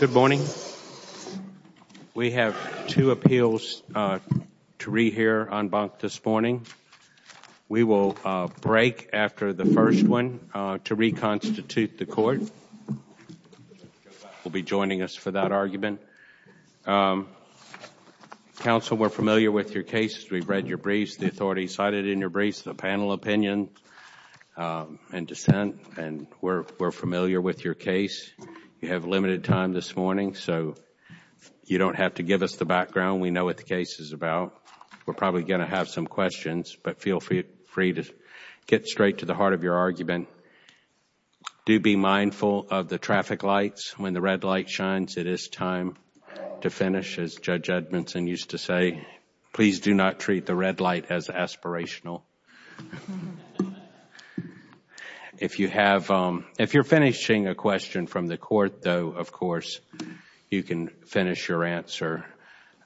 Good morning. We have two appeals to rehear on bunk this morning. We will break after the first one to reconstitute the court. We'll be joining us for that argument. Counsel, we're familiar with your case. We've read your briefs, the authority cited in your briefs, the panel opinion and dissent. We're familiar with your case. You have limited time this morning so you don't have to give us the background. We know what the case is about. We're probably going to have some questions but feel free to get straight to the heart of your argument. Do be mindful of the traffic lights. When the red light shines, it is time to finish as Judge Edmondson used to say, please do not treat the red light as aspirational. If you're finishing a question from the court, though, of course, you can finish your answer.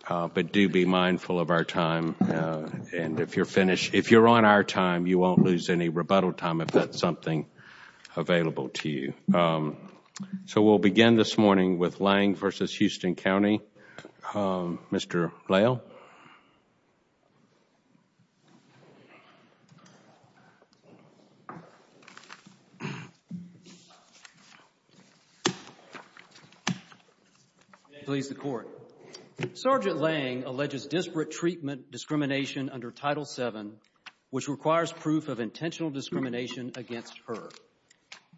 But do be mindful of our time. If you're on our time, you won't lose any rebuttal time if that's something available to you. So we'll begin this morning with Lange v. Houston County. Mr. Lange, please the court. Sergeant Lange alleges disparate treatment discrimination under Title VII, which requires proof of intentional discrimination against her.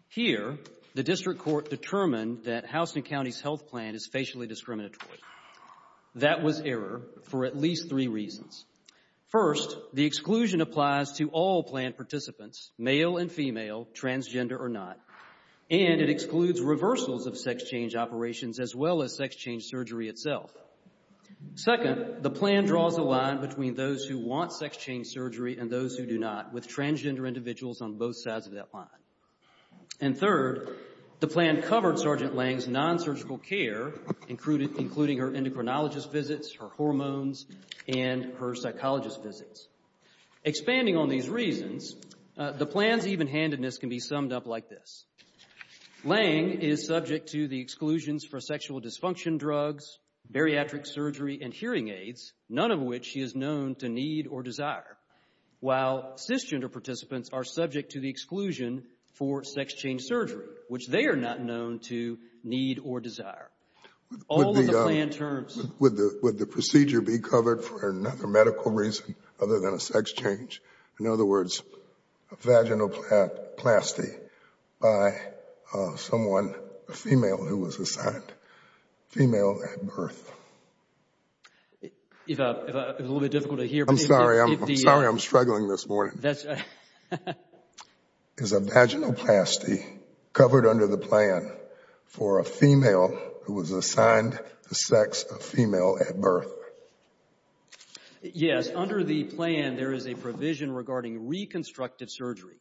Here, the district court determined that Houston County's health plan is facially discriminatory. That was error for at least three reasons. First, the exclusion applies to all plan participants, male and female, transgender or not, and it excludes reversals of sex change operations as well as sex change surgery itself. Second, the plan draws a line between those who want sex change surgery and those who do not with transgender individuals on both sides of that line. And third, the plan covered Sergeant Lange's non-surgical care, including her endocrinologist visits, her hormones, and her psychologist visits. Expanding on these reasons, the plan's evenhandedness can be summed up like this. Lange is subject to the exclusions for sexual dysfunction drugs, bariatric surgery, and hearing aids, none of which she is known to need or desire, while cisgender participants are subject to the exclusion for sex change surgery, which they are not known to need or desire. All of the plan terms... Would the procedure be covered for another medical reason other than a sex change? In other words, a vaginoplasty by someone, a female, who was assigned female at birth. It's a little bit difficult to hear. I'm sorry, I'm struggling this morning. Is a vaginoplasty covered under the plan for a female who was assigned the sex of female at birth? Yes, under the plan there is a provision regarding reconstructive surgery.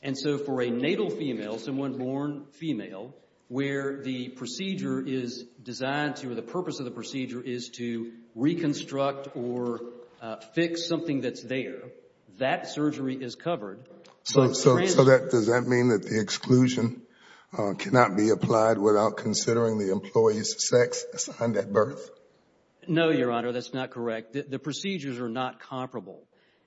And so for a natal female, someone born female, where the procedure is designed to, or the purpose of the procedure is to reconstruct or fix something that's there, that surgery is covered. So does that mean that the exclusion cannot be applied without considering the employee's sex assigned at birth? No, Your Honor, that's not correct. The procedures are not comparable.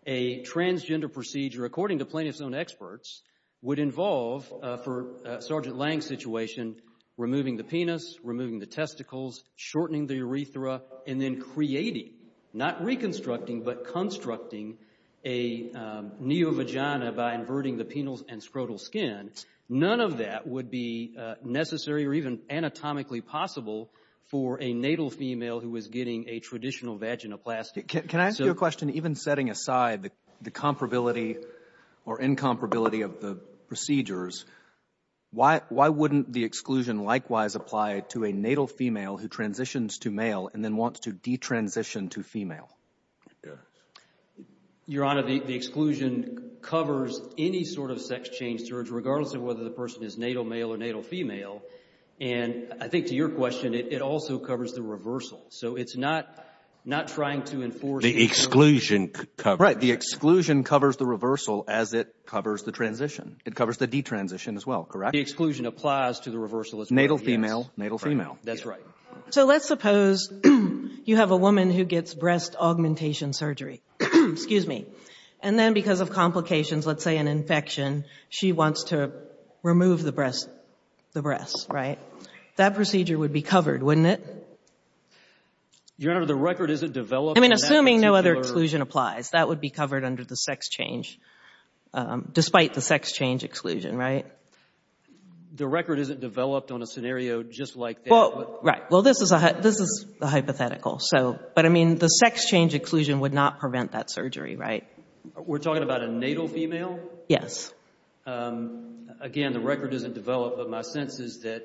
A transgender procedure, according to plaintiff's own experts, would involve, for Sergeant Lang's situation, removing the penis, removing the testicles, shortening the urethra, and then creating, not reconstructing, but constructing a neo-vagina by inverting the penile and scrotal skin. None of that would be necessary or even anatomically possible for a natal female who is getting a traditional vaginoplasty. Can I ask you a question? Even setting aside the comparability or incomparability of the procedures, why wouldn't the exclusion likewise apply to a natal female who transitions to male and then wants to de-transition to female? Your Honor, the exclusion covers any sort of sex change surgery, regardless of whether the person is natal male or natal female. And I think to your question, it also covers the reversal. So it's not trying to enforce the exclusion. Right, the exclusion covers the reversal as it covers the transition. It covers the de-transition as well, correct? The exclusion applies to the reversal as well. Natal female, natal female. That's right. So let's suppose you have a woman who gets breast augmentation surgery, excuse me, and then because of complications, let's say an infection, she wants to remove the breast, the breasts, right? That procedure would be covered, wouldn't it? Your Honor, the record isn't developed. I mean, assuming no other exclusion applies, that would be covered under the sex change, despite the sex change exclusion, right? The record isn't developed on a scenario just like that. Well, right. Well, this is a hypothetical. So, but I mean, the sex change exclusion would not prevent that surgery, right? We're talking about a natal female? Yes. Again, the record isn't developed, but my sense is that...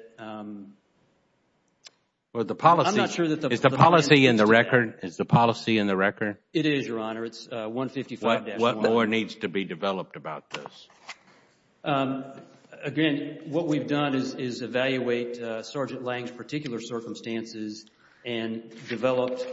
Well, the policy... I'm not sure that the... Is the policy in the record? Is the policy in the record? It is, Your Honor. It's 155-1. What more needs to be developed about this? Again, what we've done is evaluate Sergeant Lange's particular circumstances and developed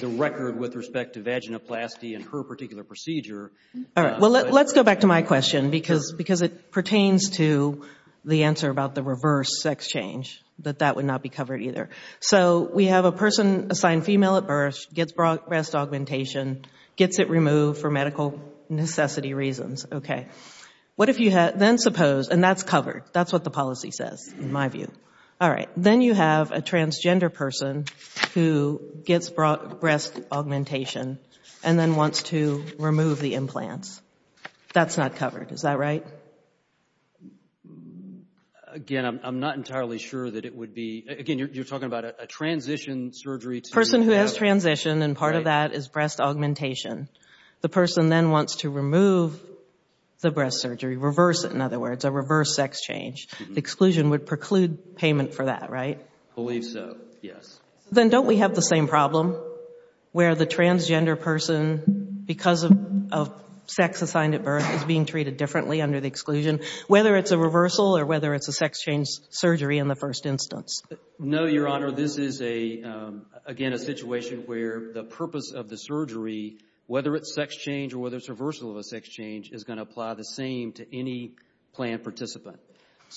the record with respect to vaginoplasty and her particular procedure. All right. Well, let's go back to my question, because it pertains to the answer about the reverse sex change, that that would not be covered either. So, we have a person assigned female at birth, gets breast augmentation, gets it removed for medical necessity reasons. Okay. What if you had... Then suppose... And that's covered. That's what the policy says, in my view. All right. Then you have a transgender person who gets breast augmentation and then wants to remove the implants. That's not covered. Is that right? Again, I'm not entirely sure that it would be... Again, you're talking about a transition surgery to... Person who has transitioned, and part of that is breast augmentation. The person then wants to remove the breast surgery, reverse it, in other words, a reverse sex change. The exclusion would preclude payment for that, right? Believe so. Yes. Then don't we have the same problem where the transgender person, because of sex assigned at birth, is being treated differently under the exclusion, whether it's a reversal or whether it's a sex change surgery in the first instance? No, Your Honor. This is, again, a situation where the purpose of the surgery, whether it's sex change or whether it's reversal of a sex change, is going to apply the same to any planned participant.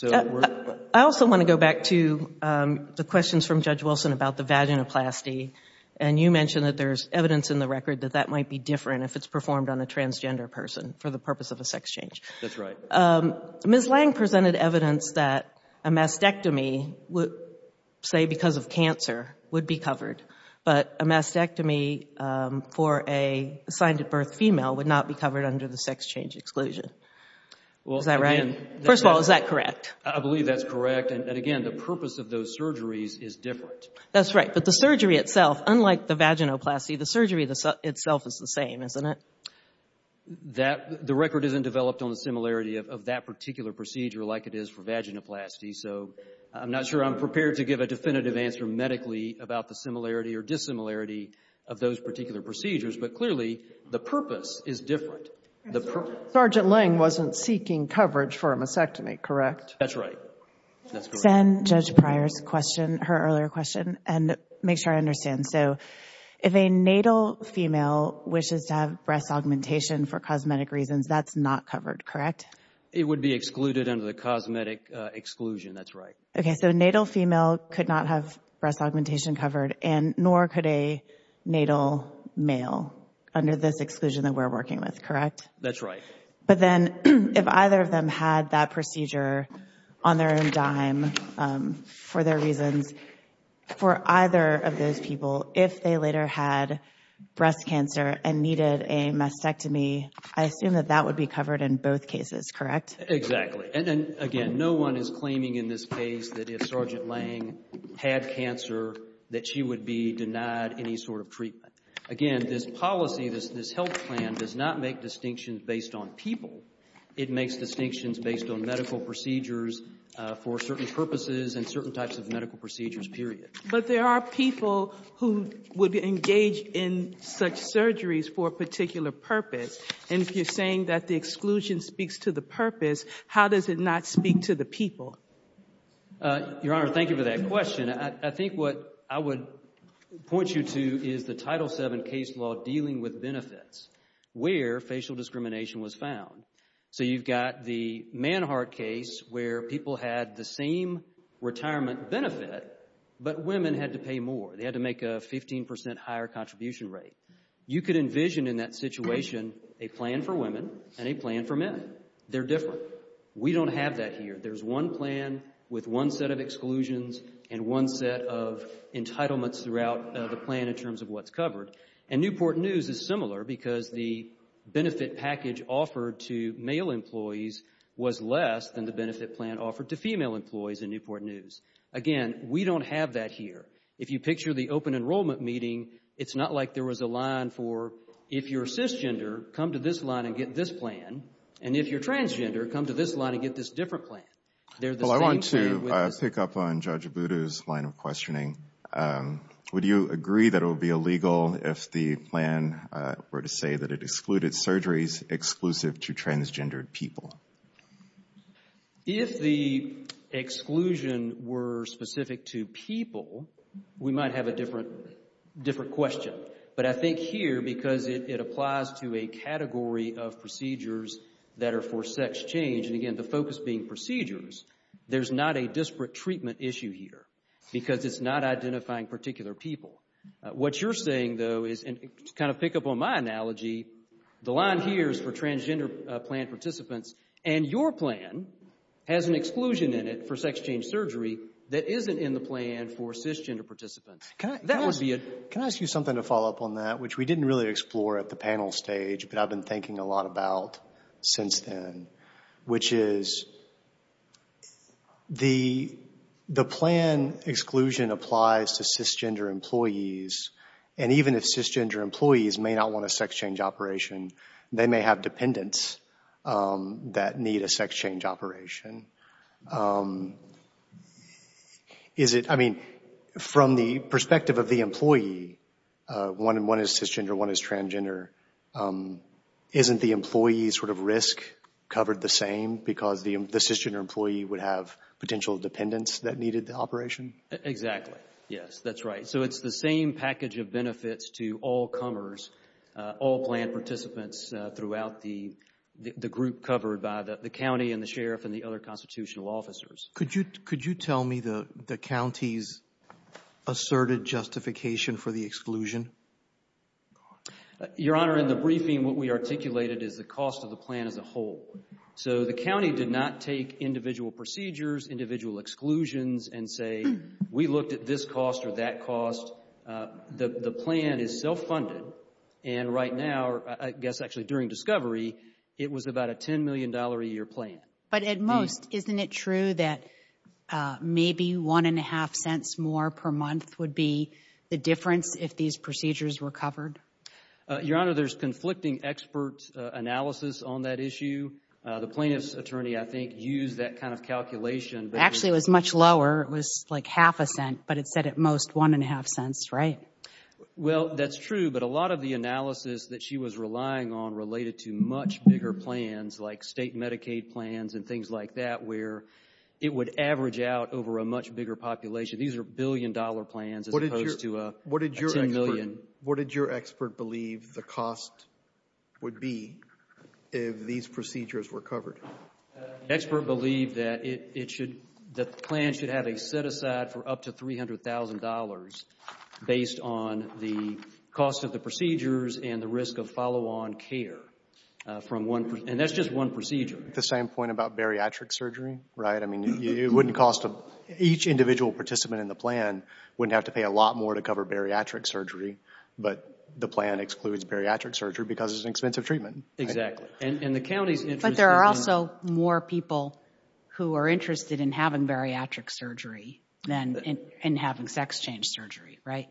I also want to go back to the questions from Judge Wilson about the vaginoplasty. You mentioned that there's evidence in the record that that might be different if it's performed on a transgender person for the purpose of a sex change. That's right. Ms. Lange presented evidence that a mastectomy, say because of cancer, would be covered, but a mastectomy for an assigned at birth female would not be covered under the sex change exclusion. Is that right? First of all, is that correct? I believe that's correct. And again, the purpose of those surgeries is different. That's right. But the surgery itself, unlike the vaginoplasty, the surgery itself is the same, isn't it? The record isn't developed on the similarity of that particular procedure like it is for vaginoplasty, so I'm not sure I'm prepared to give a definitive answer medically about the similarity or dissimilarity of those particular procedures. But clearly, the purpose is different. Sergeant Lange wasn't seeking coverage for a mastectomy, correct? That's right. Send Judge Pryor's question, her earlier question, and make sure I understand. So if a natal female wishes to have breast augmentation for cosmetic reasons, that's not covered, correct? It would be excluded under the cosmetic exclusion, that's right. Okay, so a natal female could not have breast augmentation covered, and nor could a natal male under this exclusion that we're working with, correct? That's right. But then if either of them had that procedure on their own dime for their reasons, for either of those people, if they later had breast cancer and needed a mastectomy, I assume that that would be covered in both cases, correct? Exactly. And again, no one is claiming in this case that if Sergeant Lange had cancer, that she would be denied any sort of treatment. Again, this policy, this health plan does not make distinctions based on people. It makes distinctions based on medical procedures for certain purposes and certain types of medical procedures, period. But there are people who would engage in such surgeries for a particular purpose. And if you're saying that the exclusion speaks to the purpose, how does it not speak to the people? Your Honor, thank you for that question. I think what I would point you to is the Title VII case law dealing with benefits, where facial discrimination was found. So you've got the Manhart case where people had the same retirement benefit, but women had to pay more. They had to make a 15% higher contribution rate. You could envision in that situation a plan for women and a plan for men. They're different. We don't have that here. There's one plan with one set of exclusions and one set of entitlements throughout the plan in terms of what's covered. And Newport News is similar because the benefit package offered to male employees was less than the benefit plan offered to female employees in Newport News. Again, we don't have that here. If you picture the open enrollment meeting, it's not like there was a line for, if you're cisgender, come to this line and get this plan. And if you're transgender, come to this line and get this different plan. Well, I want to pick up on Judge Abudu's line of questioning. Would you agree that it would be illegal if the plan were to say that it excluded surgeries exclusive to transgendered people? If the exclusion were specific to people, we might have a different question. But I think here, because it applies to a category of procedures that are for sex change, and again, the focus being procedures, there's not a disparate treatment issue here because it's not identifying particular people. What you're saying, though, is, and to kind of pick up on my analogy, the line here is for transgender plan participants, and your plan has an exclusion in it for sex change surgery that isn't in the plan for cisgender participants. That would be a... Can I ask you something to follow up on that, which we didn't really explore at the panel stage, but I've been thinking a lot about since then, which is the plan exclusion applies to cisgender employees, and even if cisgender employees may not want a sex change operation, they may have dependents that need a sex change operation. Is it, I mean, from the perspective of the employee, one is cisgender, one is transgender, isn't the employee's sort of risk covered the same because the cisgender employee would have potential dependents that needed the operation? Exactly, yes, that's right. So it's the same package of benefits to all comers, all plan participants throughout the group covered by the county and the sheriff and the other constitutional officers. Could you tell me the county's asserted justification for the exclusion? Your Honor, in the briefing, what we articulated is the cost of the plan as a whole. So the county did not take individual procedures, individual exclusions and say, we looked at this cost or that cost. The plan is self-funded, and right now, I guess actually during discovery, it was about a $10 million a year plan. But at most, isn't it true that maybe one and a half cents more per month would be the difference if these procedures were covered? Your Honor, there's conflicting expert analysis on that issue. The plaintiff's attorney, I think, used that kind of calculation. Actually, it was much lower. It was like half a cent, but it said at most one and a half cents, right? Well, that's true, but a lot of the analysis that she was relying on related to much bigger plans like state Medicaid plans and things like that where it would average out over a much bigger population. These are billion-dollar plans as opposed to a $10 million. What did your expert believe the cost would be if these procedures were covered? The expert believed that the plan should have a set-aside for up to $300,000 based on the cost of the procedures and the risk of follow-on care. And that's just one procedure. The same point about bariatric surgery, right? Each individual participant in the plan wouldn't have to pay a lot more to cover bariatric surgery, but the plan excludes bariatric surgery because it's an expensive treatment. Exactly. But there are also more people who are interested in having bariatric surgery than in having sex change surgery, right?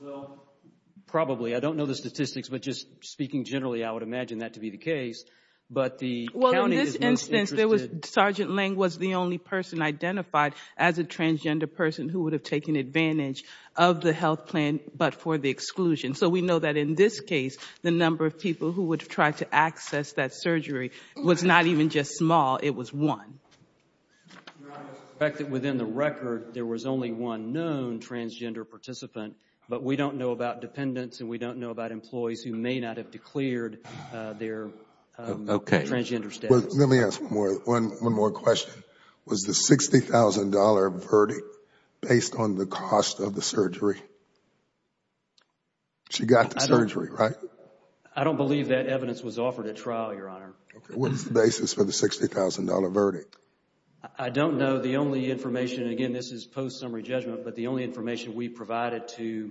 Well, probably. I don't know the statistics, but just speaking generally, I would imagine that to be the case. But the county is most interested— Well, in this instance, there was— Sergeant Lang was the only person identified as a transgender person who would have taken advantage of the health plan but for the exclusion. So we know that in this case, the number of people who would try to access that surgery was not even just small. It was one. Your Honor, I suspect that within the record, there was only one known transgender participant, but we don't know about dependents and we don't know about employees who may not have declared their transgender status. Let me ask one more question. Was the $60,000 verdict based on the cost of the surgery? She got the surgery, right? I don't believe that evidence was offered at trial, Your Honor. What is the basis for the $60,000 verdict? I don't know. The only information— Again, this is post-summary judgment, but the only information we provided to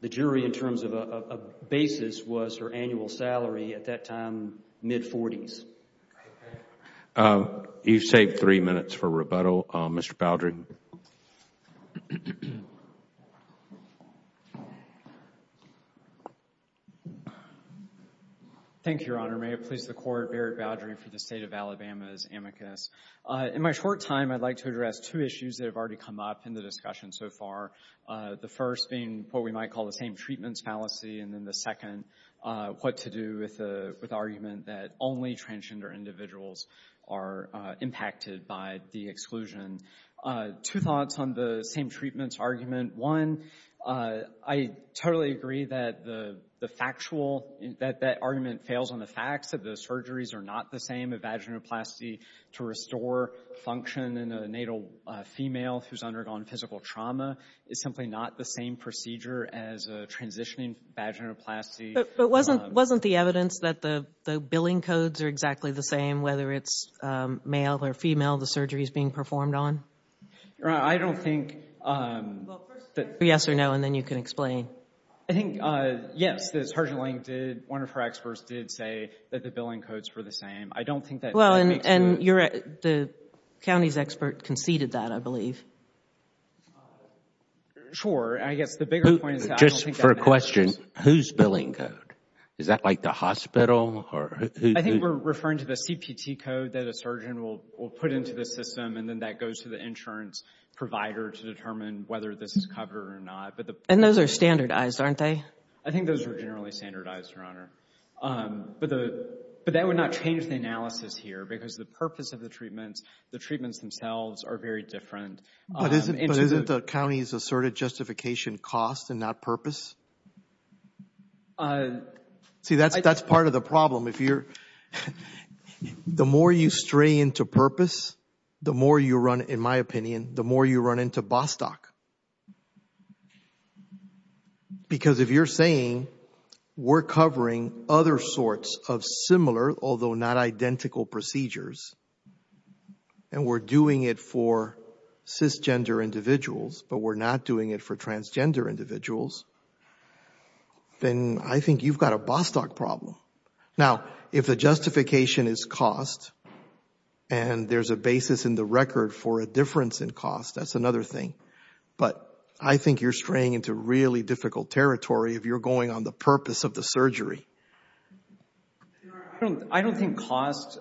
the jury in terms of a basis was her annual salary at that time, mid-40s. You've saved three minutes for rebuttal. Mr. Baldry. Thank you, Your Honor. May it please the Court, Barrett Baldry for the State of Alabama's amicus. In my short time, I'd like to address two issues that have already come up in the discussion so far, the first being what we might call the same-treatments fallacy, and then the second, what to do with the argument that only transgender individuals are impacted by the exclusion. Two thoughts on the same-treatments argument. One, I totally agree that the factual— that that argument fails on the facts that the surgeries are not the same. Vaginoplasty to restore function in a natal female who's undergone physical trauma is simply not the same procedure as a transitioning vaginoplasty. But wasn't the evidence that the billing codes are exactly the same, whether it's male or female, the surgeries being performed on? I don't think— Yes or no, and then you can explain. I think, yes, one of her experts did say that the billing codes were the same. Well, and the county's expert conceded that, I believe. Sure, I guess the bigger point is— Just for a question, who's billing code? Is that like the hospital or who— I think we're referring to the CPT code that a surgeon will put into the system, and then that goes to the insurance provider to determine whether this is covered or not. And those are standardized, aren't they? I think those are generally standardized, Your Honor. But that would not change the analysis here because the purpose of the treatments, the treatments themselves are very different. But isn't the county's asserted justification cost and not purpose? See, that's part of the problem. If you're—the more you stray into purpose, the more you run, in my opinion, the more you run into Bostock. Because if you're saying we're covering other sorts of similar, although not identical, procedures, and we're doing it for cisgender individuals, but we're not doing it for transgender individuals, then I think you've got a Bostock problem. Now, if the justification is cost and there's a basis in the record for a difference in cost, that's another thing. But I think you're straying into really difficult territory if you're going on the purpose of the surgery. Your Honor, I don't think cost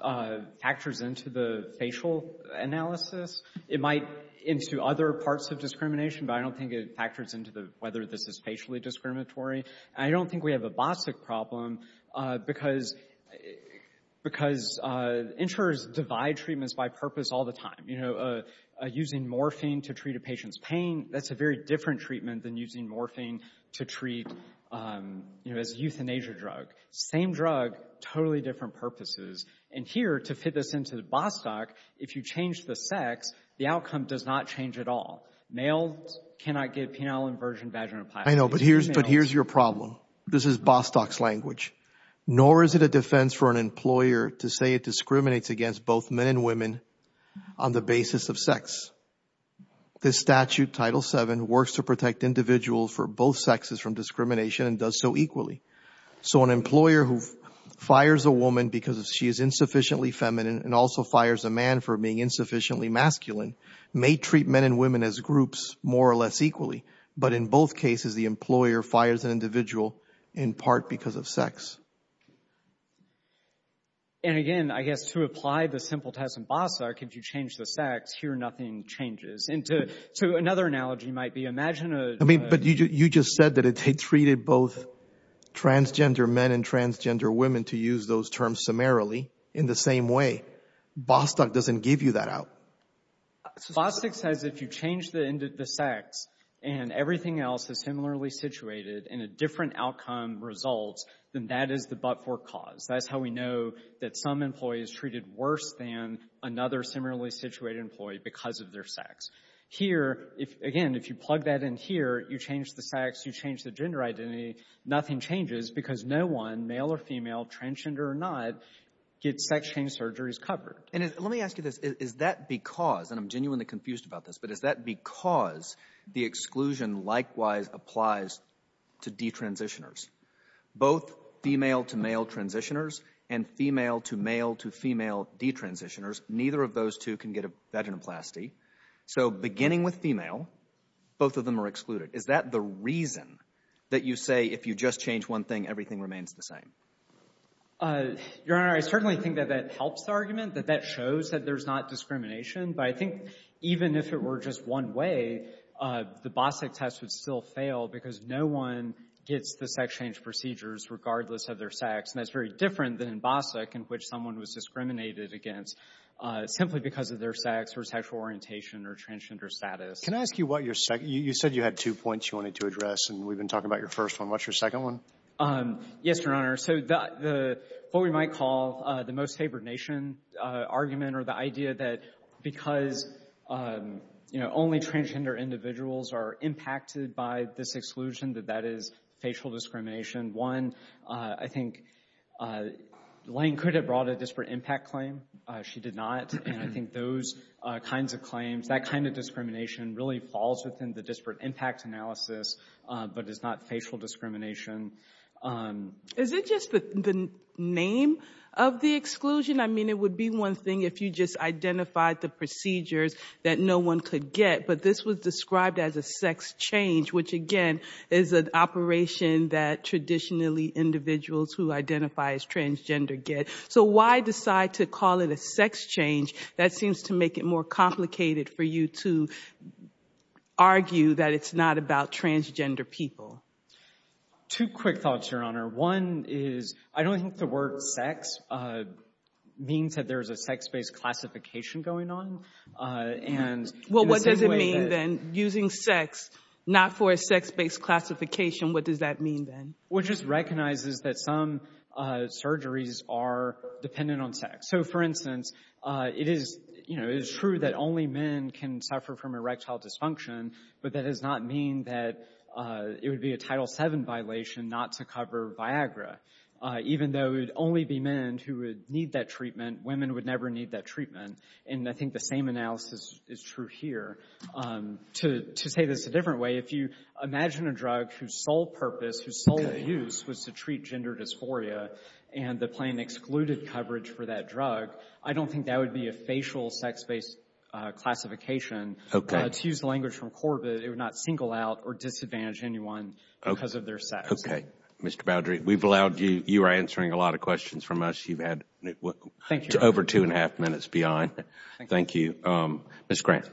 factors into the facial analysis. It might into other parts of discrimination, but I don't think it factors into the— whether this is facially discriminatory. And I don't think we have a Bostock problem because insurers divide treatments by purpose all the time. Using morphine to treat a patient's pain, that's a very different treatment than using morphine to treat as a euthanasia drug. Same drug, totally different purposes. And here, to fit this into the Bostock, if you change the sex, the outcome does not change at all. Males cannot get penile inversion vaginoplasty. I know, but here's your problem. This is Bostock's language. Nor is it a defense for an employer to say it discriminates against both men and women on the basis of sex. This statute, Title VII, works to protect individuals for both sexes from discrimination and does so equally. So an employer who fires a woman because she is insufficiently feminine and also fires a man for being insufficiently masculine may treat men and women as groups more or less equally. But in both cases, the employer fires an individual in part because of sex. And again, I guess, to apply the simple test in Bostock, if you change the sex, here nothing changes. And to another analogy might be, imagine a... I mean, but you just said that it treated both transgender men and transgender women to use those terms summarily in the same way. Bostock doesn't give you that out. Bostock says if you change the sex and everything else is similarly situated in a different outcome result, then that is the but-for cause. That's how we know that some employees treated worse than another similarly situated employee because of their sex. Here, again, if you plug that in here, you change the sex, you change the gender identity, nothing changes because no one, male or female, transgender or not, gets sex change surgeries covered. And let me ask you this, is that because, and I'm genuinely confused about this, but is that because the exclusion likewise applies to detransitioners? Both female-to-male transitioners and female-to-male-to-female detransitioners, neither of those two can get a vaginoplasty. So beginning with female, both of them are excluded. Is that the reason that you say if you just change one thing, everything remains the same? Your Honor, I certainly think that that helps the argument, that that shows that there's not discrimination. But I think even if it were just one way, the Bostock test would still fail because no one gets the sex change procedures regardless of their sex. And that's very different than in Bostock, in which someone was discriminated against simply because of their sex or sexual orientation or transgender status. Can I ask you what your second, you said you had two points you wanted to address, and we've been talking about your first one. What's your second one? Yes, Your Honor. So what we might call the most favored nation argument or the idea that because only transgender individuals are impacted by this exclusion, that that is facial discrimination. One, I think, Lane could have brought a disparate impact claim. She did not. And I think those kinds of claims, that kind of discrimination really falls within the disparate impact analysis, but it's not facial discrimination. Is it just the name of the exclusion? I mean, it would be one thing if you just identified the procedures that no one could get, but this was described as a sex change, which again is an operation that traditionally individuals who identify as transgender get. So why decide to call it a sex change? That seems to make it more complicated for you to argue that it's not about transgender people. Two quick thoughts, Your Honor. One is, I don't think the word sex means that there's a sex-based classification going on. And... Well, what does it mean then, using sex, not for a sex-based classification, what does that mean then? Well, it just recognizes that some surgeries are dependent on sex. So for instance, it is, you know, it is true that only men can suffer from erectile dysfunction, but that does not mean that it would be a Title VII violation not to cover Viagra. Even though it would only be men who would need that treatment, women would never need that treatment. And I think the same analysis is true here. To say this a different way, if you imagine a drug whose sole purpose, whose sole use was to treat gender dysphoria and the plan excluded coverage for that drug, I don't think that would be a facial sex-based classification. Okay. To use the language from Corbett, it would not single out or disadvantage anyone because of their sex. Okay. Mr. Baldry, we've allowed you, you are answering a lot of questions from us. You've had over two and a half minutes Thank you. Ms. Grant.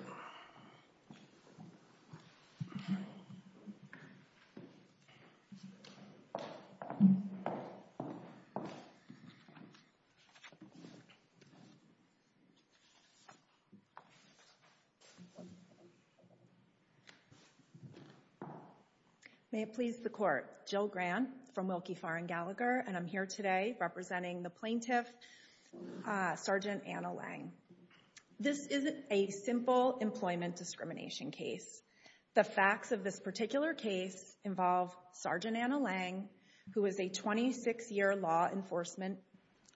May it please the court. Jill Grant from Wilkie, Farr, and Gallagher. And I'm here today representing the plaintiff, Sergeant Anna Lange. This is a simple employment discrimination case. The facts of this particular case involve Sergeant Anna Lange, who is a 26-year law enforcement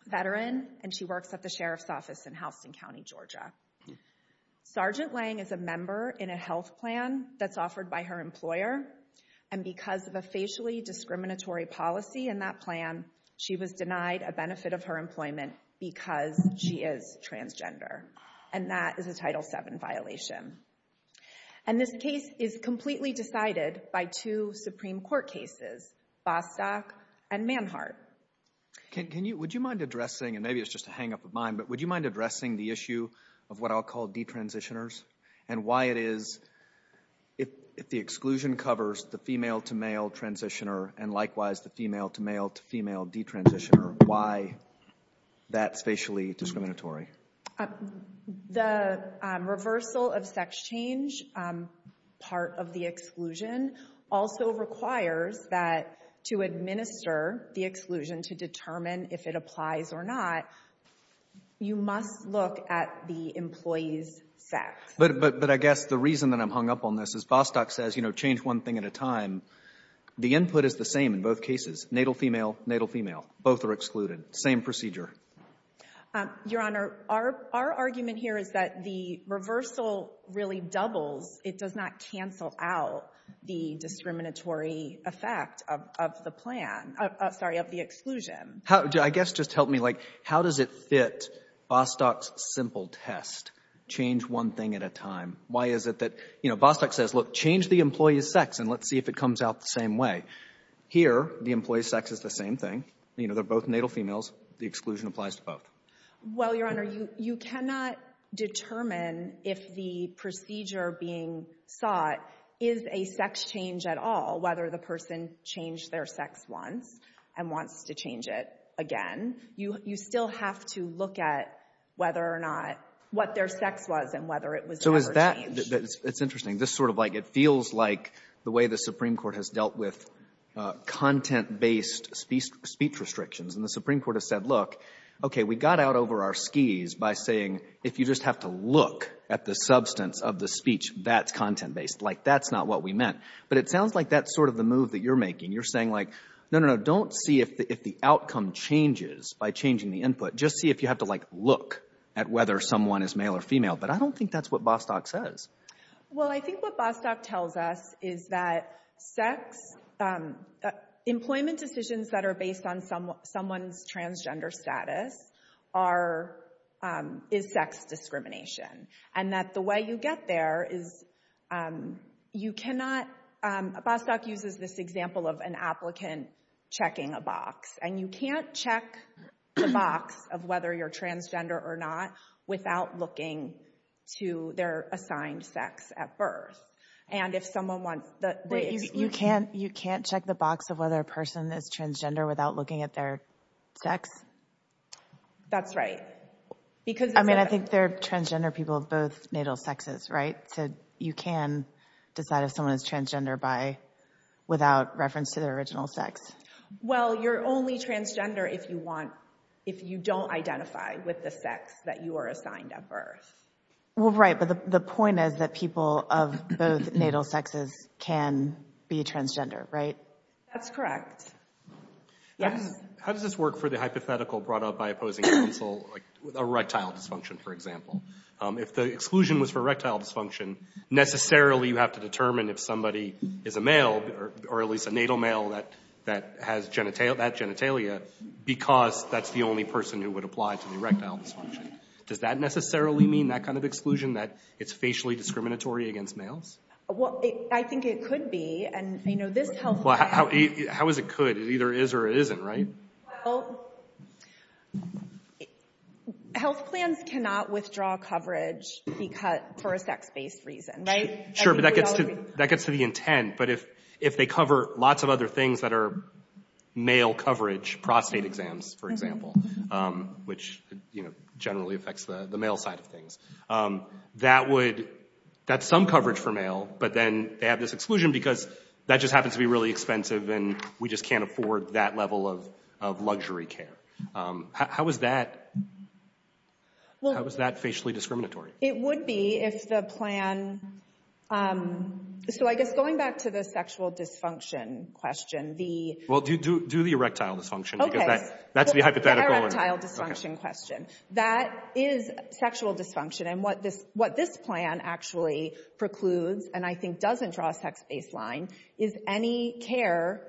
veteran, and she works at the Sheriff's Office in Houston County, Georgia. Sergeant Lange is a member in a health plan that's offered by her employer. And because of a facially discriminatory policy in that plan, she was denied a benefit of her employment because she is transgender. And that is a Title VII violation. And this case is completely decided by two Supreme Court cases, Bostock and Manhart. Can you, would you mind addressing, and maybe it's just a hang up of mine, but would you mind addressing the issue of what I'll call detransitioners and why it is, if the exclusion covers the female to male transitioner and likewise the female to male to female detransitioner, why that's facially discriminatory? The reversal of sex change, part of the exclusion, also requires that to administer the exclusion to determine if it applies or not, you must look at the employee's sex. But I guess the reason that I'm hung up on this is Bostock says, you know, change one thing at a time. The input is the same in both cases, natal female, natal female. Both are excluded. Same procedure. Your Honor, our argument here is that the reversal really doubles. It does not cancel out the discriminatory effect of the plan, sorry, of the exclusion. I guess just help me, like, how does it fit Bostock's simple test, change one thing at a time? Why is it that, you know, Bostock says, look, change the employee's sex and let's see if it comes out the same way. Here, the employee's sex is the same thing. They're both natal females. The exclusion applies to both. Well, Your Honor, you cannot determine if the procedure being sought is a sex change at all, whether the person changed their sex once and wants to change it again. You still have to look at whether or not what their sex was and whether it was ever changed. So is that, it's interesting, this sort of like, it feels like the way the Supreme Court has dealt with content-based speech restrictions and the Supreme Court has said, look, OK, we got out over our skis by saying if you just have to look at the substance of the speech, that's content-based. Like, that's not what we meant. But it sounds like that's sort of the move that you're making. You're saying like, no, no, no, don't see if the outcome changes by changing the input. Just see if you have to, like, look at whether someone is male or female. But I don't think that's what Bostock says. Well, I think what Bostock tells us is that sex, employment decisions that are based on someone's transgender status are, is sex discrimination. And that the way you get there is, you cannot, Bostock uses this example of an applicant checking a box. And you can't check the box of whether you're transgender or not without looking to their assigned sex at birth. And if someone wants, the exclusion- You can't, you can't check the box of whether a person is transgender without looking at their sex? That's right, because- I mean, I think they're transgender people of both natal sexes, right? So you can decide if someone is transgender by, without reference to their original sex. Well, you're only transgender if you want, if you don't identify with the sex that you are assigned at birth. Well, right, but the point is that people of both natal sexes can be transgender, right? That's correct. How does this work for the hypothetical brought up by opposing counsel, like erectile dysfunction, for example? If the exclusion was for erectile dysfunction, necessarily you have to determine if somebody is a male, or at least a natal male that, that has genital, that genitalia, because that's the only person who would apply to the erectile dysfunction. Does that necessarily mean that kind of exclusion, that it's facially discriminatory against males? Well, I think it could be, and I know this health- Well, how is it could? It either is or isn't, right? Health plans cannot withdraw coverage for a sex-based reason, right? Sure, but that gets to the intent. But if they cover lots of other things that are male coverage, prostate exams, for example, which generally affects the male side of things. That would, that's some coverage for male, but then they have this exclusion because that just happens to be really expensive, and we just can't afford that level of luxury care. How is that, how is that facially discriminatory? It would be if the plan, so I guess going back to the sexual dysfunction question, the- Well, do the erectile dysfunction, because that's the hypothetical- The erectile dysfunction question. That is sexual dysfunction, and what this plan actually precludes, and I think doesn't draw a sex-based line, is any care,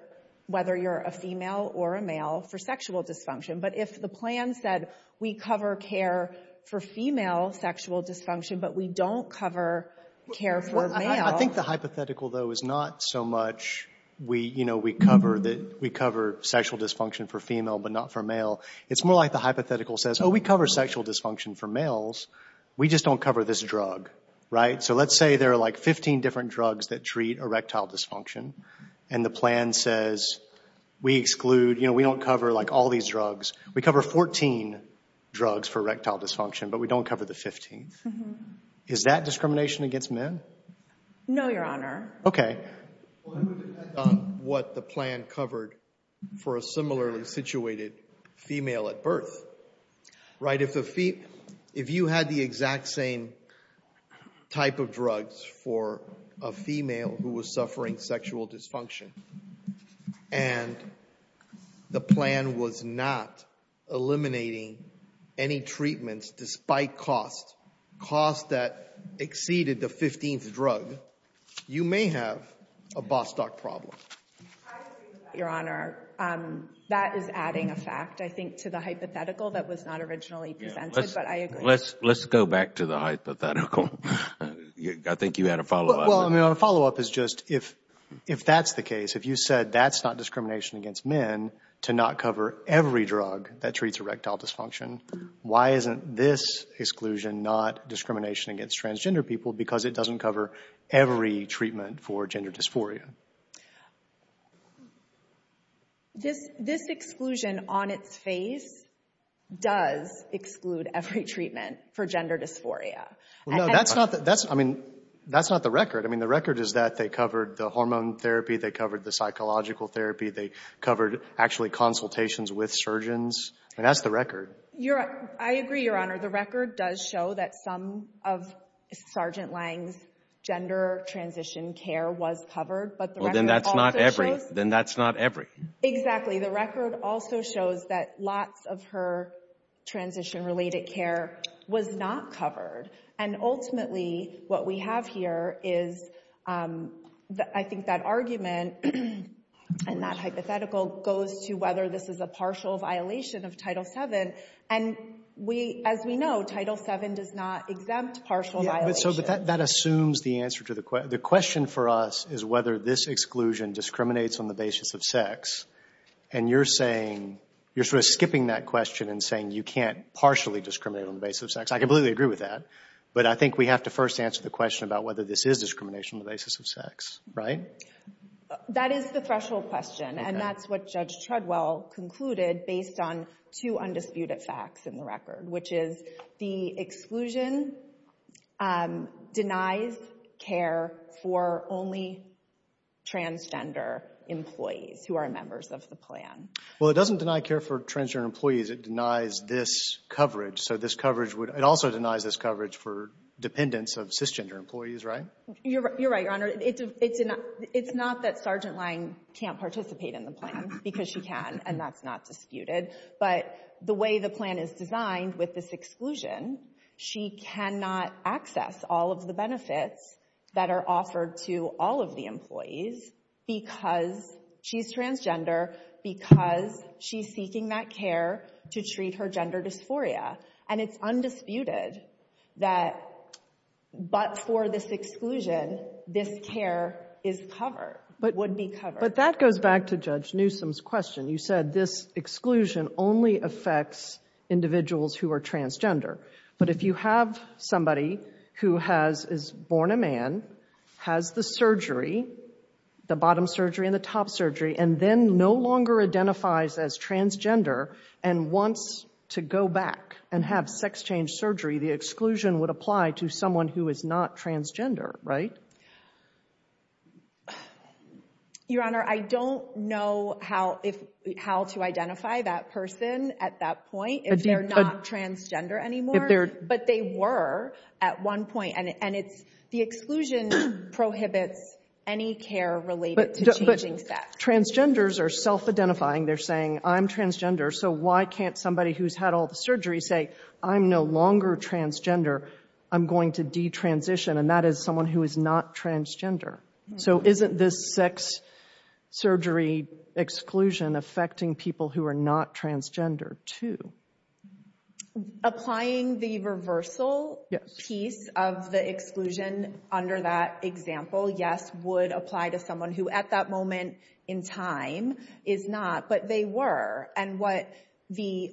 whether you're a female or a male, for sexual dysfunction. But if the plan said, we cover care for female sexual dysfunction, but we don't cover care for male- I think the hypothetical, though, is not so much we cover sexual dysfunction for female, but not for male. It's more like the hypothetical says, oh, we cover sexual dysfunction for males. We just don't cover this drug, right? So let's say there are like 15 different drugs that treat erectile dysfunction, and the plan says, we exclude, you know, we don't cover like all these drugs. We cover 14 drugs for erectile dysfunction, but we don't cover the 15th. Is that discrimination against men? No, Your Honor. Okay. Well, it would depend on what the plan covered for a similarly situated female at birth, right? If you had the exact same type of drugs for a female who was suffering sexual dysfunction, and the plan was not eliminating any treatments, despite costs, costs that exceeded the 15th drug, you may have a Bostock problem. I agree with that, Your Honor. That is adding a fact, I think, to the hypothetical that was not originally presented, but I agree. Let's go back to the hypothetical. I think you had a follow-up. Well, I mean, a follow-up is just, if that's the case, if you said that's not discrimination against men to not cover every drug that treats erectile dysfunction, why isn't this exclusion not discrimination against transgender people? Because it doesn't cover every treatment for gender dysphoria. This exclusion on its face does exclude every treatment for gender dysphoria. Well, no, that's not the record. I mean, the record is that they covered the hormone therapy, they covered the psychological therapy, they covered actually consultations with surgeons. I mean, that's the record. Your Honor, I agree, Your Honor. The record does show that some of Sergeant Lange's gender transition care was covered, but the record also shows- Then that's not every. Exactly. The record also shows that lots of her transition-related care was not covered. And ultimately, what we have here is, I think that argument and that hypothetical goes to whether this is a partial violation of Title VII. And as we know, Title VII does not exempt partial violations. So that assumes the answer to the question. is whether this exclusion discriminates on the basis of sex. And you're saying, you're sort of skipping that question and saying you can't partially discriminate on the basis of sex. I completely agree with that. But I think we have to first answer the question about whether this is discrimination on the basis of sex, right? That is the threshold question. And that's what Judge Treadwell concluded based on two undisputed facts in the record, which is the exclusion denies care for only transgender employees who are members of the plan. Well, it doesn't deny care for transgender employees. It denies this coverage. So this coverage would- It also denies this coverage for dependents of cisgender employees, right? You're right, Your Honor. It's not that Sergeant Lange can't participate in the plan because she can, and that's not disputed. But the way the plan is designed with this exclusion, she cannot access all of the benefits that are offered to all of the employees because she's transgender, because she's seeking that care to treat her gender dysphoria. And it's undisputed that, but for this exclusion, this care is covered, would be covered. But that goes back to Judge Newsom's question. You said this exclusion only affects individuals who are transgender. But if you have somebody who has, is born a man, has the surgery, the bottom surgery and the top surgery, and then no longer identifies as transgender and wants to go back and have sex change surgery, the exclusion would apply to someone who is not transgender, right? Your Honor, I don't know how, how to identify that person at that point if they're not transgender anymore, but they were at one point. And it's, the exclusion prohibits any care related to changing sex. But transgenders are self-identifying. They're saying, I'm transgender, so why can't somebody who's had all the surgery say, I'm no longer transgender. I'm going to detransition. And that is someone who is not transgender. So isn't this sex surgery exclusion affecting people who are not transgender too? Applying the reversal piece of the exclusion under that example, yes, would apply to someone who at that moment in time is not, but they were. And what the,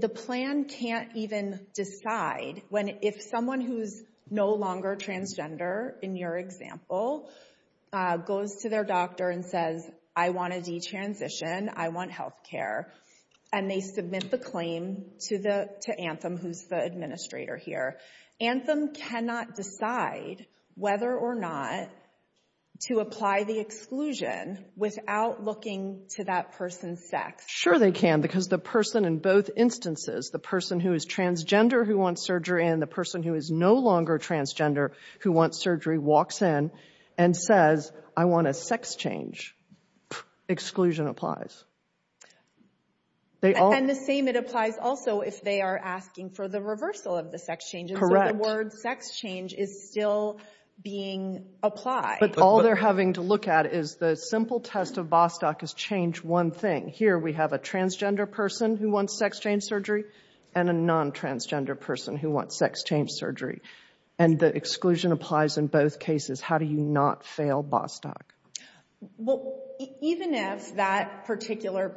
the plan can't even decide when if someone who's no longer transgender, in your example, goes to their doctor and says, I want to detransition, I want healthcare. And they submit the claim to the, to Anthem, who's the administrator here. Anthem cannot decide whether or not to apply the exclusion without looking to that person's sex. Sure they can, because the person in both instances, the person who is transgender who wants surgery, and the person who is no longer transgender who wants surgery walks in and says, I want a sex change. Exclusion applies. And the same, it applies also, if they are asking for the reversal of the sex changes. Correct. The word sex change is still being applied. But all they're having to look at is the simple test of Bostock is change one thing. Here we have a transgender person who wants sex change surgery, and a non-transgender person who wants sex change surgery. And the exclusion applies in both cases. How do you not fail Bostock? Well, even if that particular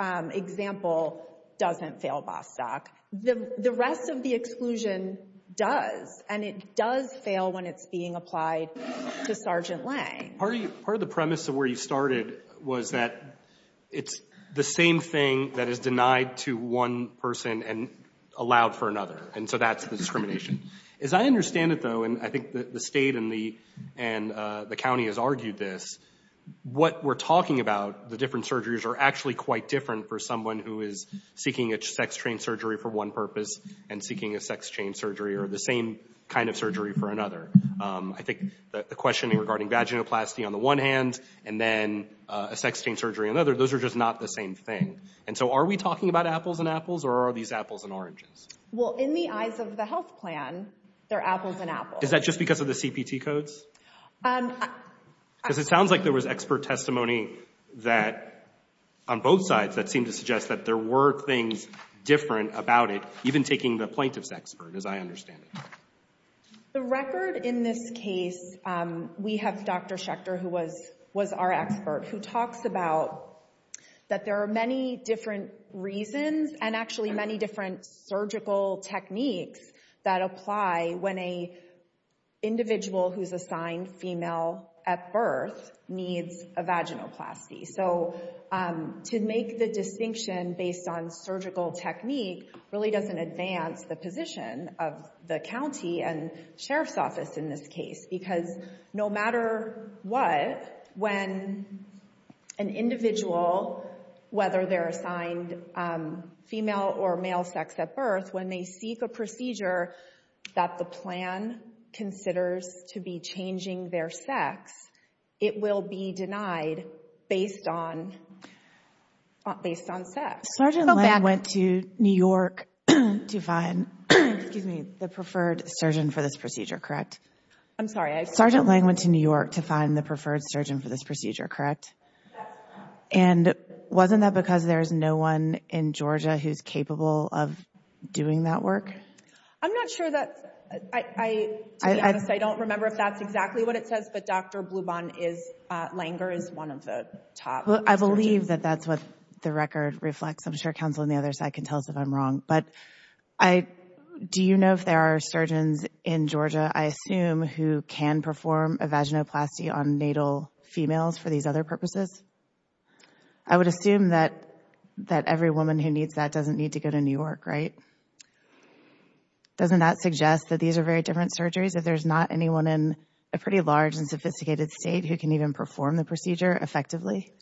example doesn't fail Bostock, the rest of the exclusion does. And it does fail when it's being applied to Sergeant Lane. Part of the premise of where you started was that it's the same thing that is denied to one person and allowed for another. And so that's the discrimination. As I understand it, though, and I think the state and the county has argued this, what we're talking about, the different surgeries are actually quite different for someone who is seeking a sex change surgery for one purpose and seeking a sex change surgery or the same kind of surgery for another. I think the questioning regarding vaginoplasty on the one hand, and then a sex change surgery on the other, those are just not the same thing. And so are we talking about apples and apples, or are these apples and oranges? Well, in the eyes of the health plan, they're apples and apples. Is that just because of the CPT codes? Because it sounds like there was expert testimony that, on both sides, that seemed to suggest that there were things different about it, even taking the plaintiff's expert, as I understand it. The record in this case, we have Dr. Schechter, who was our expert, who talks about that there are many different reasons and actually many different surgical techniques that apply when an individual who's assigned female at birth needs a vaginoplasty. So to make the distinction based on surgical technique really doesn't advance the position of the county and sheriff's office in this case. Because no matter what, when an individual, whether they're assigned female or male sex at birth, when they seek a procedure that the plan considers to be changing their sex, it will be denied based on sex. Sergeant Lange went to New York to find, excuse me, the preferred surgeon for this procedure, correct? I'm sorry. Sergeant Lange went to New York to find the preferred surgeon for this procedure, correct? That's correct. And wasn't that because there's no one in Georgia who's capable of doing that work? I'm not sure that... I don't remember if that's exactly what it says, but Dr. Bluban Langer is one of the top. I believe that that's what the record reflects. I'm sure counsel on the other side can tell us if I'm wrong. But do you know if there are surgeons in Georgia, I assume, who can perform a vaginoplasty on natal females for these other purposes? I would assume that every woman who needs that doesn't need to go to New York, right? Doesn't that suggest that these are very different surgeries if there's not anyone in a pretty large and sophisticated state who can even perform the procedure effectively?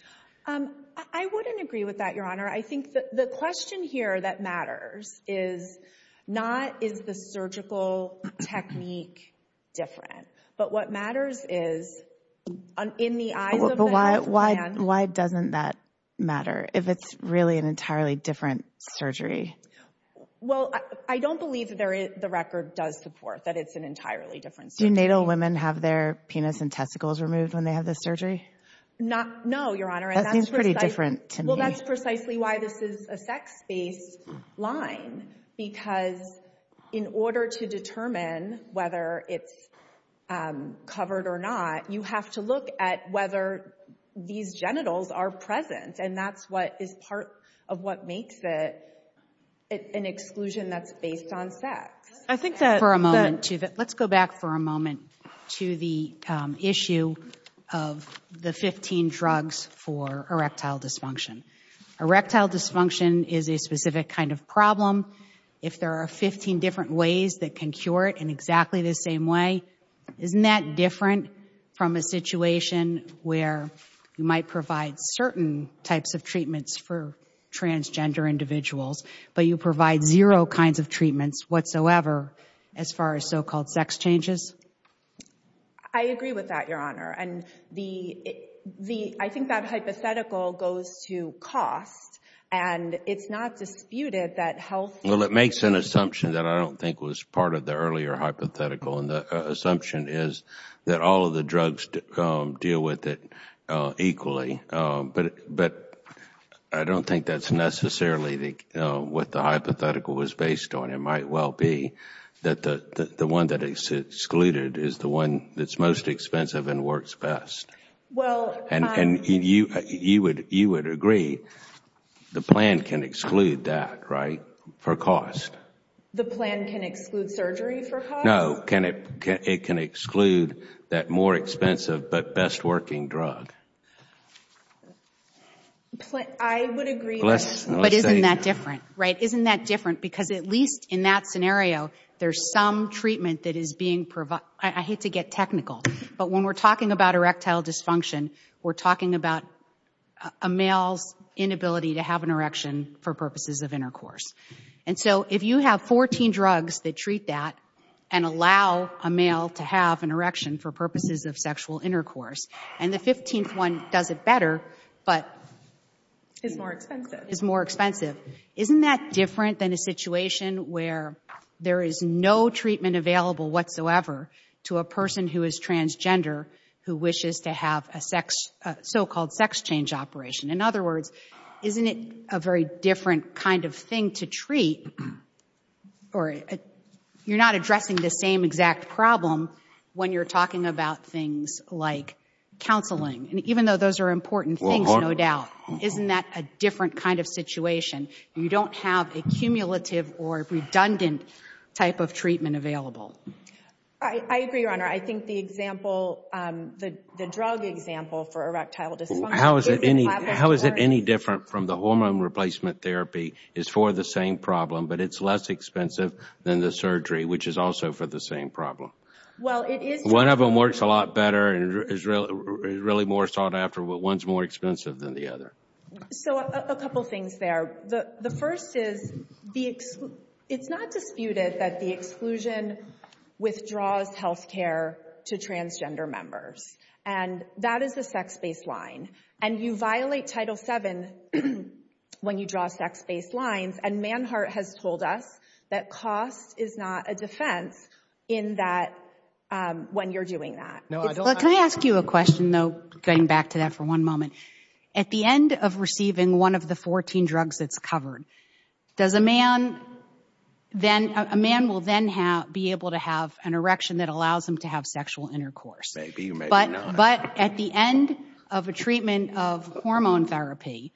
I wouldn't agree with that, Your Honor. I think that the question here that matters is not is the surgical technique different, but what matters is in the eyes of the man... Why doesn't that matter if it's really an entirely different surgery? Well, I don't believe that the record does support that it's an entirely different surgery. Do natal women have their penis and testicles removed when they have this surgery? No, Your Honor. That seems pretty different to me. Well, that's precisely why this is a sex-based line, because in order to determine whether it's covered or not, you have to look at whether these genitals are present, and that's what is part of what makes it an exclusion that's based on sex. Let's go back for a moment to the issue of the 15 drugs for erectile dysfunction. Erectile dysfunction is a specific kind of problem. If there are 15 different ways that can cure it in exactly the same way, isn't that different from a situation where you might provide certain types of treatments for transgender individuals, but you provide zero kinds of treatments whatsoever as far as so-called sex changes? I agree with that, Your Honor. And I think that hypothetical goes to cost, and it's not disputed that health... Well, it makes an assumption that I don't think was part of the earlier hypothetical, and the assumption is that all of the drugs deal with it equally, but I don't think that's necessarily what the hypothetical was based on. It might well be that the one that is excluded is the one that's most expensive and works best. Well, I'm... And you would agree the plan can exclude that, right? For cost. The plan can exclude surgery for cost? No, it can exclude that more expensive, but best working drug. I would agree that... But isn't that different, right? Isn't that different? Because at least in that scenario, there's some treatment that is being provided. I hate to get technical, but when we're talking about erectile dysfunction, we're talking about a male's inability to have an erection for purposes of intercourse. And so if you have 14 drugs that treat that and allow a male to have an erection for purposes of sexual intercourse, and the 15th one does it better, but... Is more expensive. Is more expensive. Isn't that different than a situation where there is no treatment available whatsoever to a person who is transgender who wishes to have a so-called sex change operation? In other words, isn't it a very different kind of thing to treat or... You're not addressing the same exact problem when you're talking about things like counseling. And even though those are important things, no doubt, isn't that a different kind of situation? You don't have a cumulative or redundant type of treatment available. I agree, Your Honor. I think the example, the drug example for erectile dysfunction... How is it any different from the hormone replacement therapy is for the same problem, but it's less expensive than the surgery, which is also for the same problem. One of them works a lot better and is really more sought after, but one's more expensive than the other. So a couple things there. The first is, it's not disputed that the exclusion withdraws healthcare to transgender members. And that is a sex-based line. And you violate Title VII when you draw sex-based lines. And Manhart has told us that cost is not a defense in that when you're doing that. Can I ask you a question, though, getting back to that for one moment? At the end of receiving one of the 14 drugs that's covered, does a man... Then a man will then be able to have an erection that allows him to have sexual intercourse. But at the end of a treatment of hormone therapy,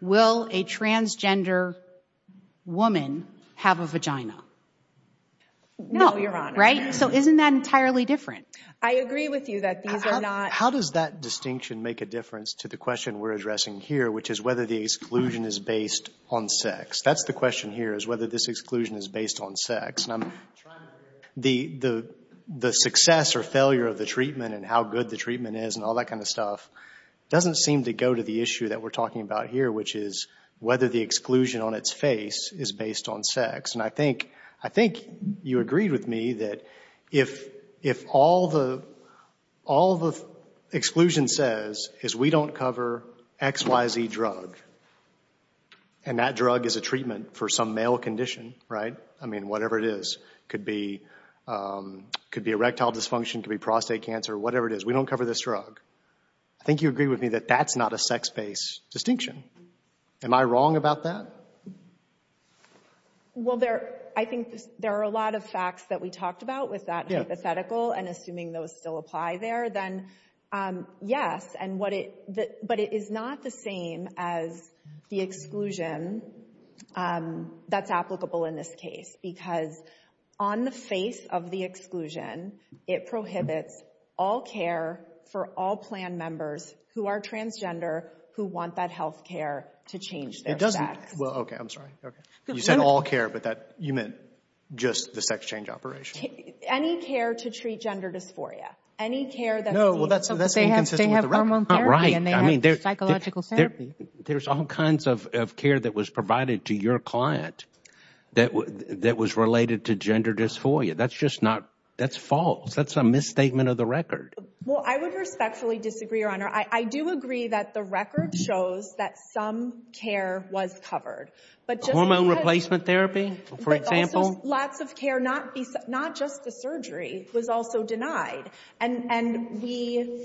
will a transgender woman have a vagina? No, Your Honor. Right? So isn't that entirely different? I agree with you that these are not... How does that distinction make a difference to the question we're addressing here, which is whether the exclusion is based on sex? That's the question here, is whether this exclusion is based on sex. And I'm trying to... The success or failure of the treatment and how good the treatment is and all that kind of stuff doesn't seem to go to the issue that we're talking about here, which is whether the exclusion on its face is based on sex. And I think you agreed with me that if all the exclusion says is we don't cover XYZ drug, and that drug is a treatment for some male condition, right? I mean, whatever it is. Could be erectile dysfunction, could be prostate cancer, whatever it is. We don't cover this drug. I think you agree with me that that's not a sex-based distinction. Am I wrong about that? Well, I think there are a lot of facts that we talked about with that hypothetical and assuming those still apply there, then yes, but it is not the same as the exclusion that's applicable in this case, because on the face of the exclusion, it prohibits all care for all plan members who are transgender who want that health care to change their sex. Well, okay, I'm sorry. You said all care, but you meant just the sex change operation. Any care to treat gender dysphoria. Any care that's inconsistent with the record. No, well, that's inconsistent with the record. and they have psychological therapy. There's all kinds of care that was provided to your client that was related to gender dysphoria. That's just not, that's false. That's a misstatement of the record. Well, I would respectfully disagree, Your Honor. I do agree that the record shows that some care was covered, but just because... Hormone replacement therapy, for example. Lots of care, not just the surgery, was also denied. And we...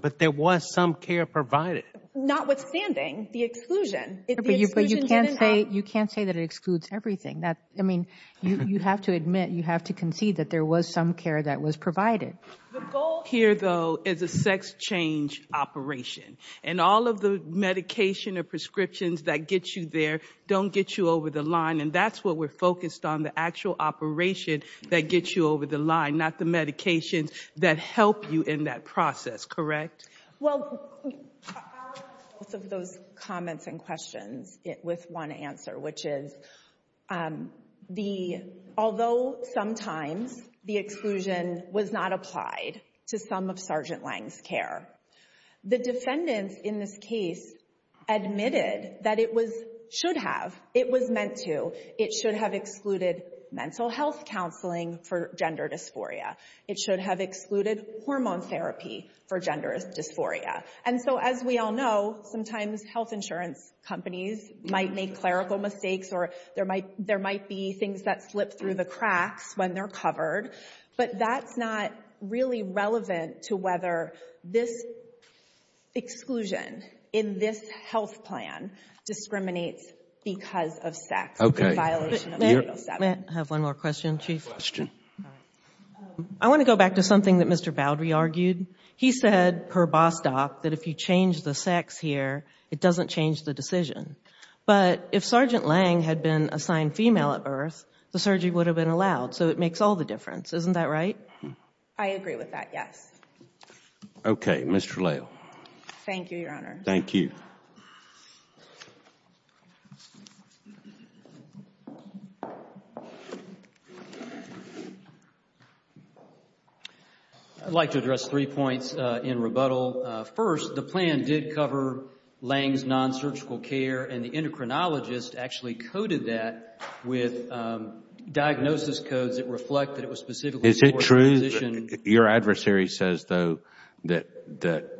But there was some care provided. Notwithstanding the exclusion. You can't say that it excludes everything. That, I mean, you have to admit, you have to concede that there was some care that was provided. The goal here, though, is a sex change operation. And all of the medication or prescriptions that get you there don't get you over the line. And that's what we're focused on, the actual operation that gets you over the line, not the medications that help you in that process. Correct? Well, I'll answer both of those comments and questions with one answer, which is, although sometimes the exclusion was not applied to some of Sergeant Lange's care, the defendants in this case admitted that it should have. It was meant to. It should have excluded mental health counseling for gender dysphoria. It should have excluded hormone therapy for gender dysphoria. And so, as we all know, sometimes health insurance companies might make clerical mistakes or there might be things that slip through the cracks when they're covered. But that's not really relevant to whether this exclusion in this health plan discriminates because of sex. I have one more question, Chief. I want to go back to something that Mr. Boudry argued. He said, per Bostock, that if you change the sex here, it doesn't change the decision. But if Sergeant Lange had been assigned female at birth, the surgery would have been allowed. So it makes all the difference. Isn't that right? I agree with that, yes. OK, Mr. Lale. Thank you, Your Honor. Thank you. I'd like to address three points in rebuttal. First, the plan did cover Lange's non-surgical care and the endocrinologist actually coded that with diagnosis codes that reflect that it was specifically Is it true that your adversary says, though, that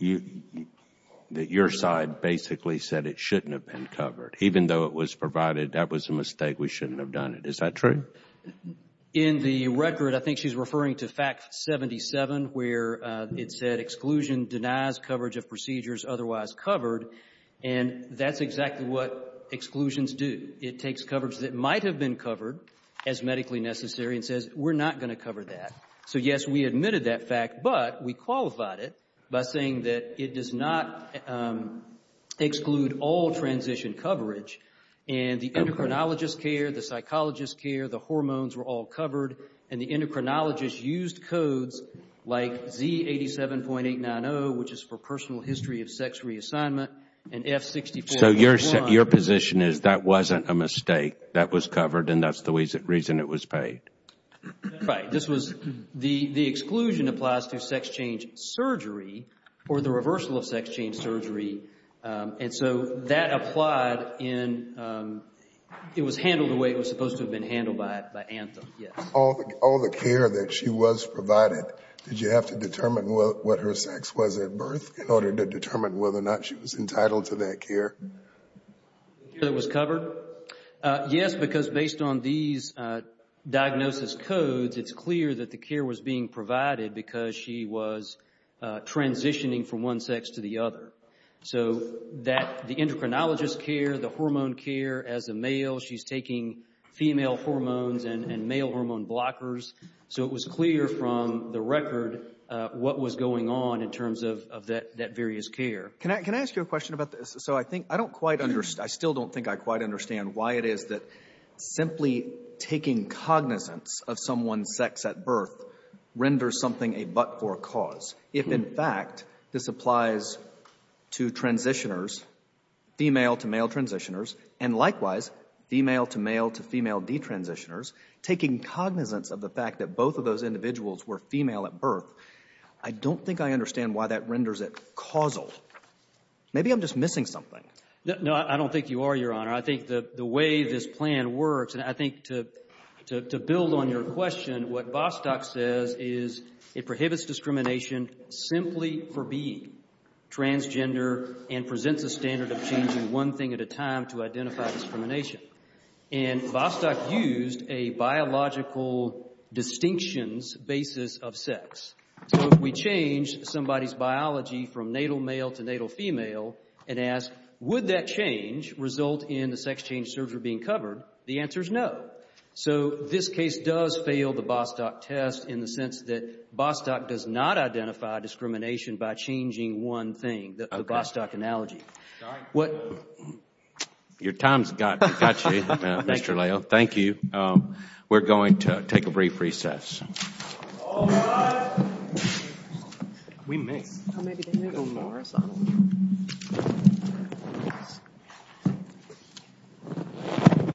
your side basically said it shouldn't have been covered, even though it was provided that was a mistake, we shouldn't have done it. Is that true? In the record, I think she's referring to fact 77, where it said exclusion denies coverage of procedures otherwise covered. And that's exactly what exclusions do. It takes coverage that might have been covered as medically necessary and says, we're not going to cover that. So, yes, we admitted that fact, but we qualified it by saying that it does not exclude all transition coverage. And the endocrinologist care, the psychologist care, the hormones were all covered. And the endocrinologist used codes like Z87.890, which is for personal history of sex reassignment, and F64.1. So your position is that wasn't a mistake that was covered, and that's the reason it was paid? Right. The exclusion applies to sex change surgery or the reversal of sex change surgery. And so that applied in... It was handled the way it was supposed to have been handled by Anthem. All the care that she was provided, did you have to determine what her sex was at birth in order to determine whether or not she was entitled to that care? The care that was covered? Yes, because based on these diagnosis codes, it's clear that the care was being provided because she was transitioning from one sex to the other. So that the endocrinologist care, the hormone care as a male, she's taking female hormones and male hormone blockers. So it was clear from the record what was going on in terms of that various care. Can I ask you a question about this? So I think I don't quite understand. I still don't think I quite understand why it is that simply taking cognizance of someone's sex at birth renders something a but for a cause. If in fact this applies to transitioners, female to male transitioners, and likewise, female to male to female detransitioners, taking cognizance of the fact that both of those individuals were female at birth, I don't think I understand why that renders it causal. Maybe I'm just missing something. No, I don't think you are, Your Honor. I think the way this plan works, and I think to build on your question, what Vostok says is it prohibits discrimination simply for being transgender and presents a standard of changing one thing at a time to identify discrimination. And Vostok used a biological distinctions basis of sex. So if we change somebody's biology from natal male to natal female and ask would that change result in the sex change surgery being covered, the answer is no. So this case does fail the Vostok test in the sense that Vostok does not identify discrimination by changing one thing, the Vostok analogy. Your time's got you, Mr. Lael. Thank you. We're going to take a brief recess. All rise. We may.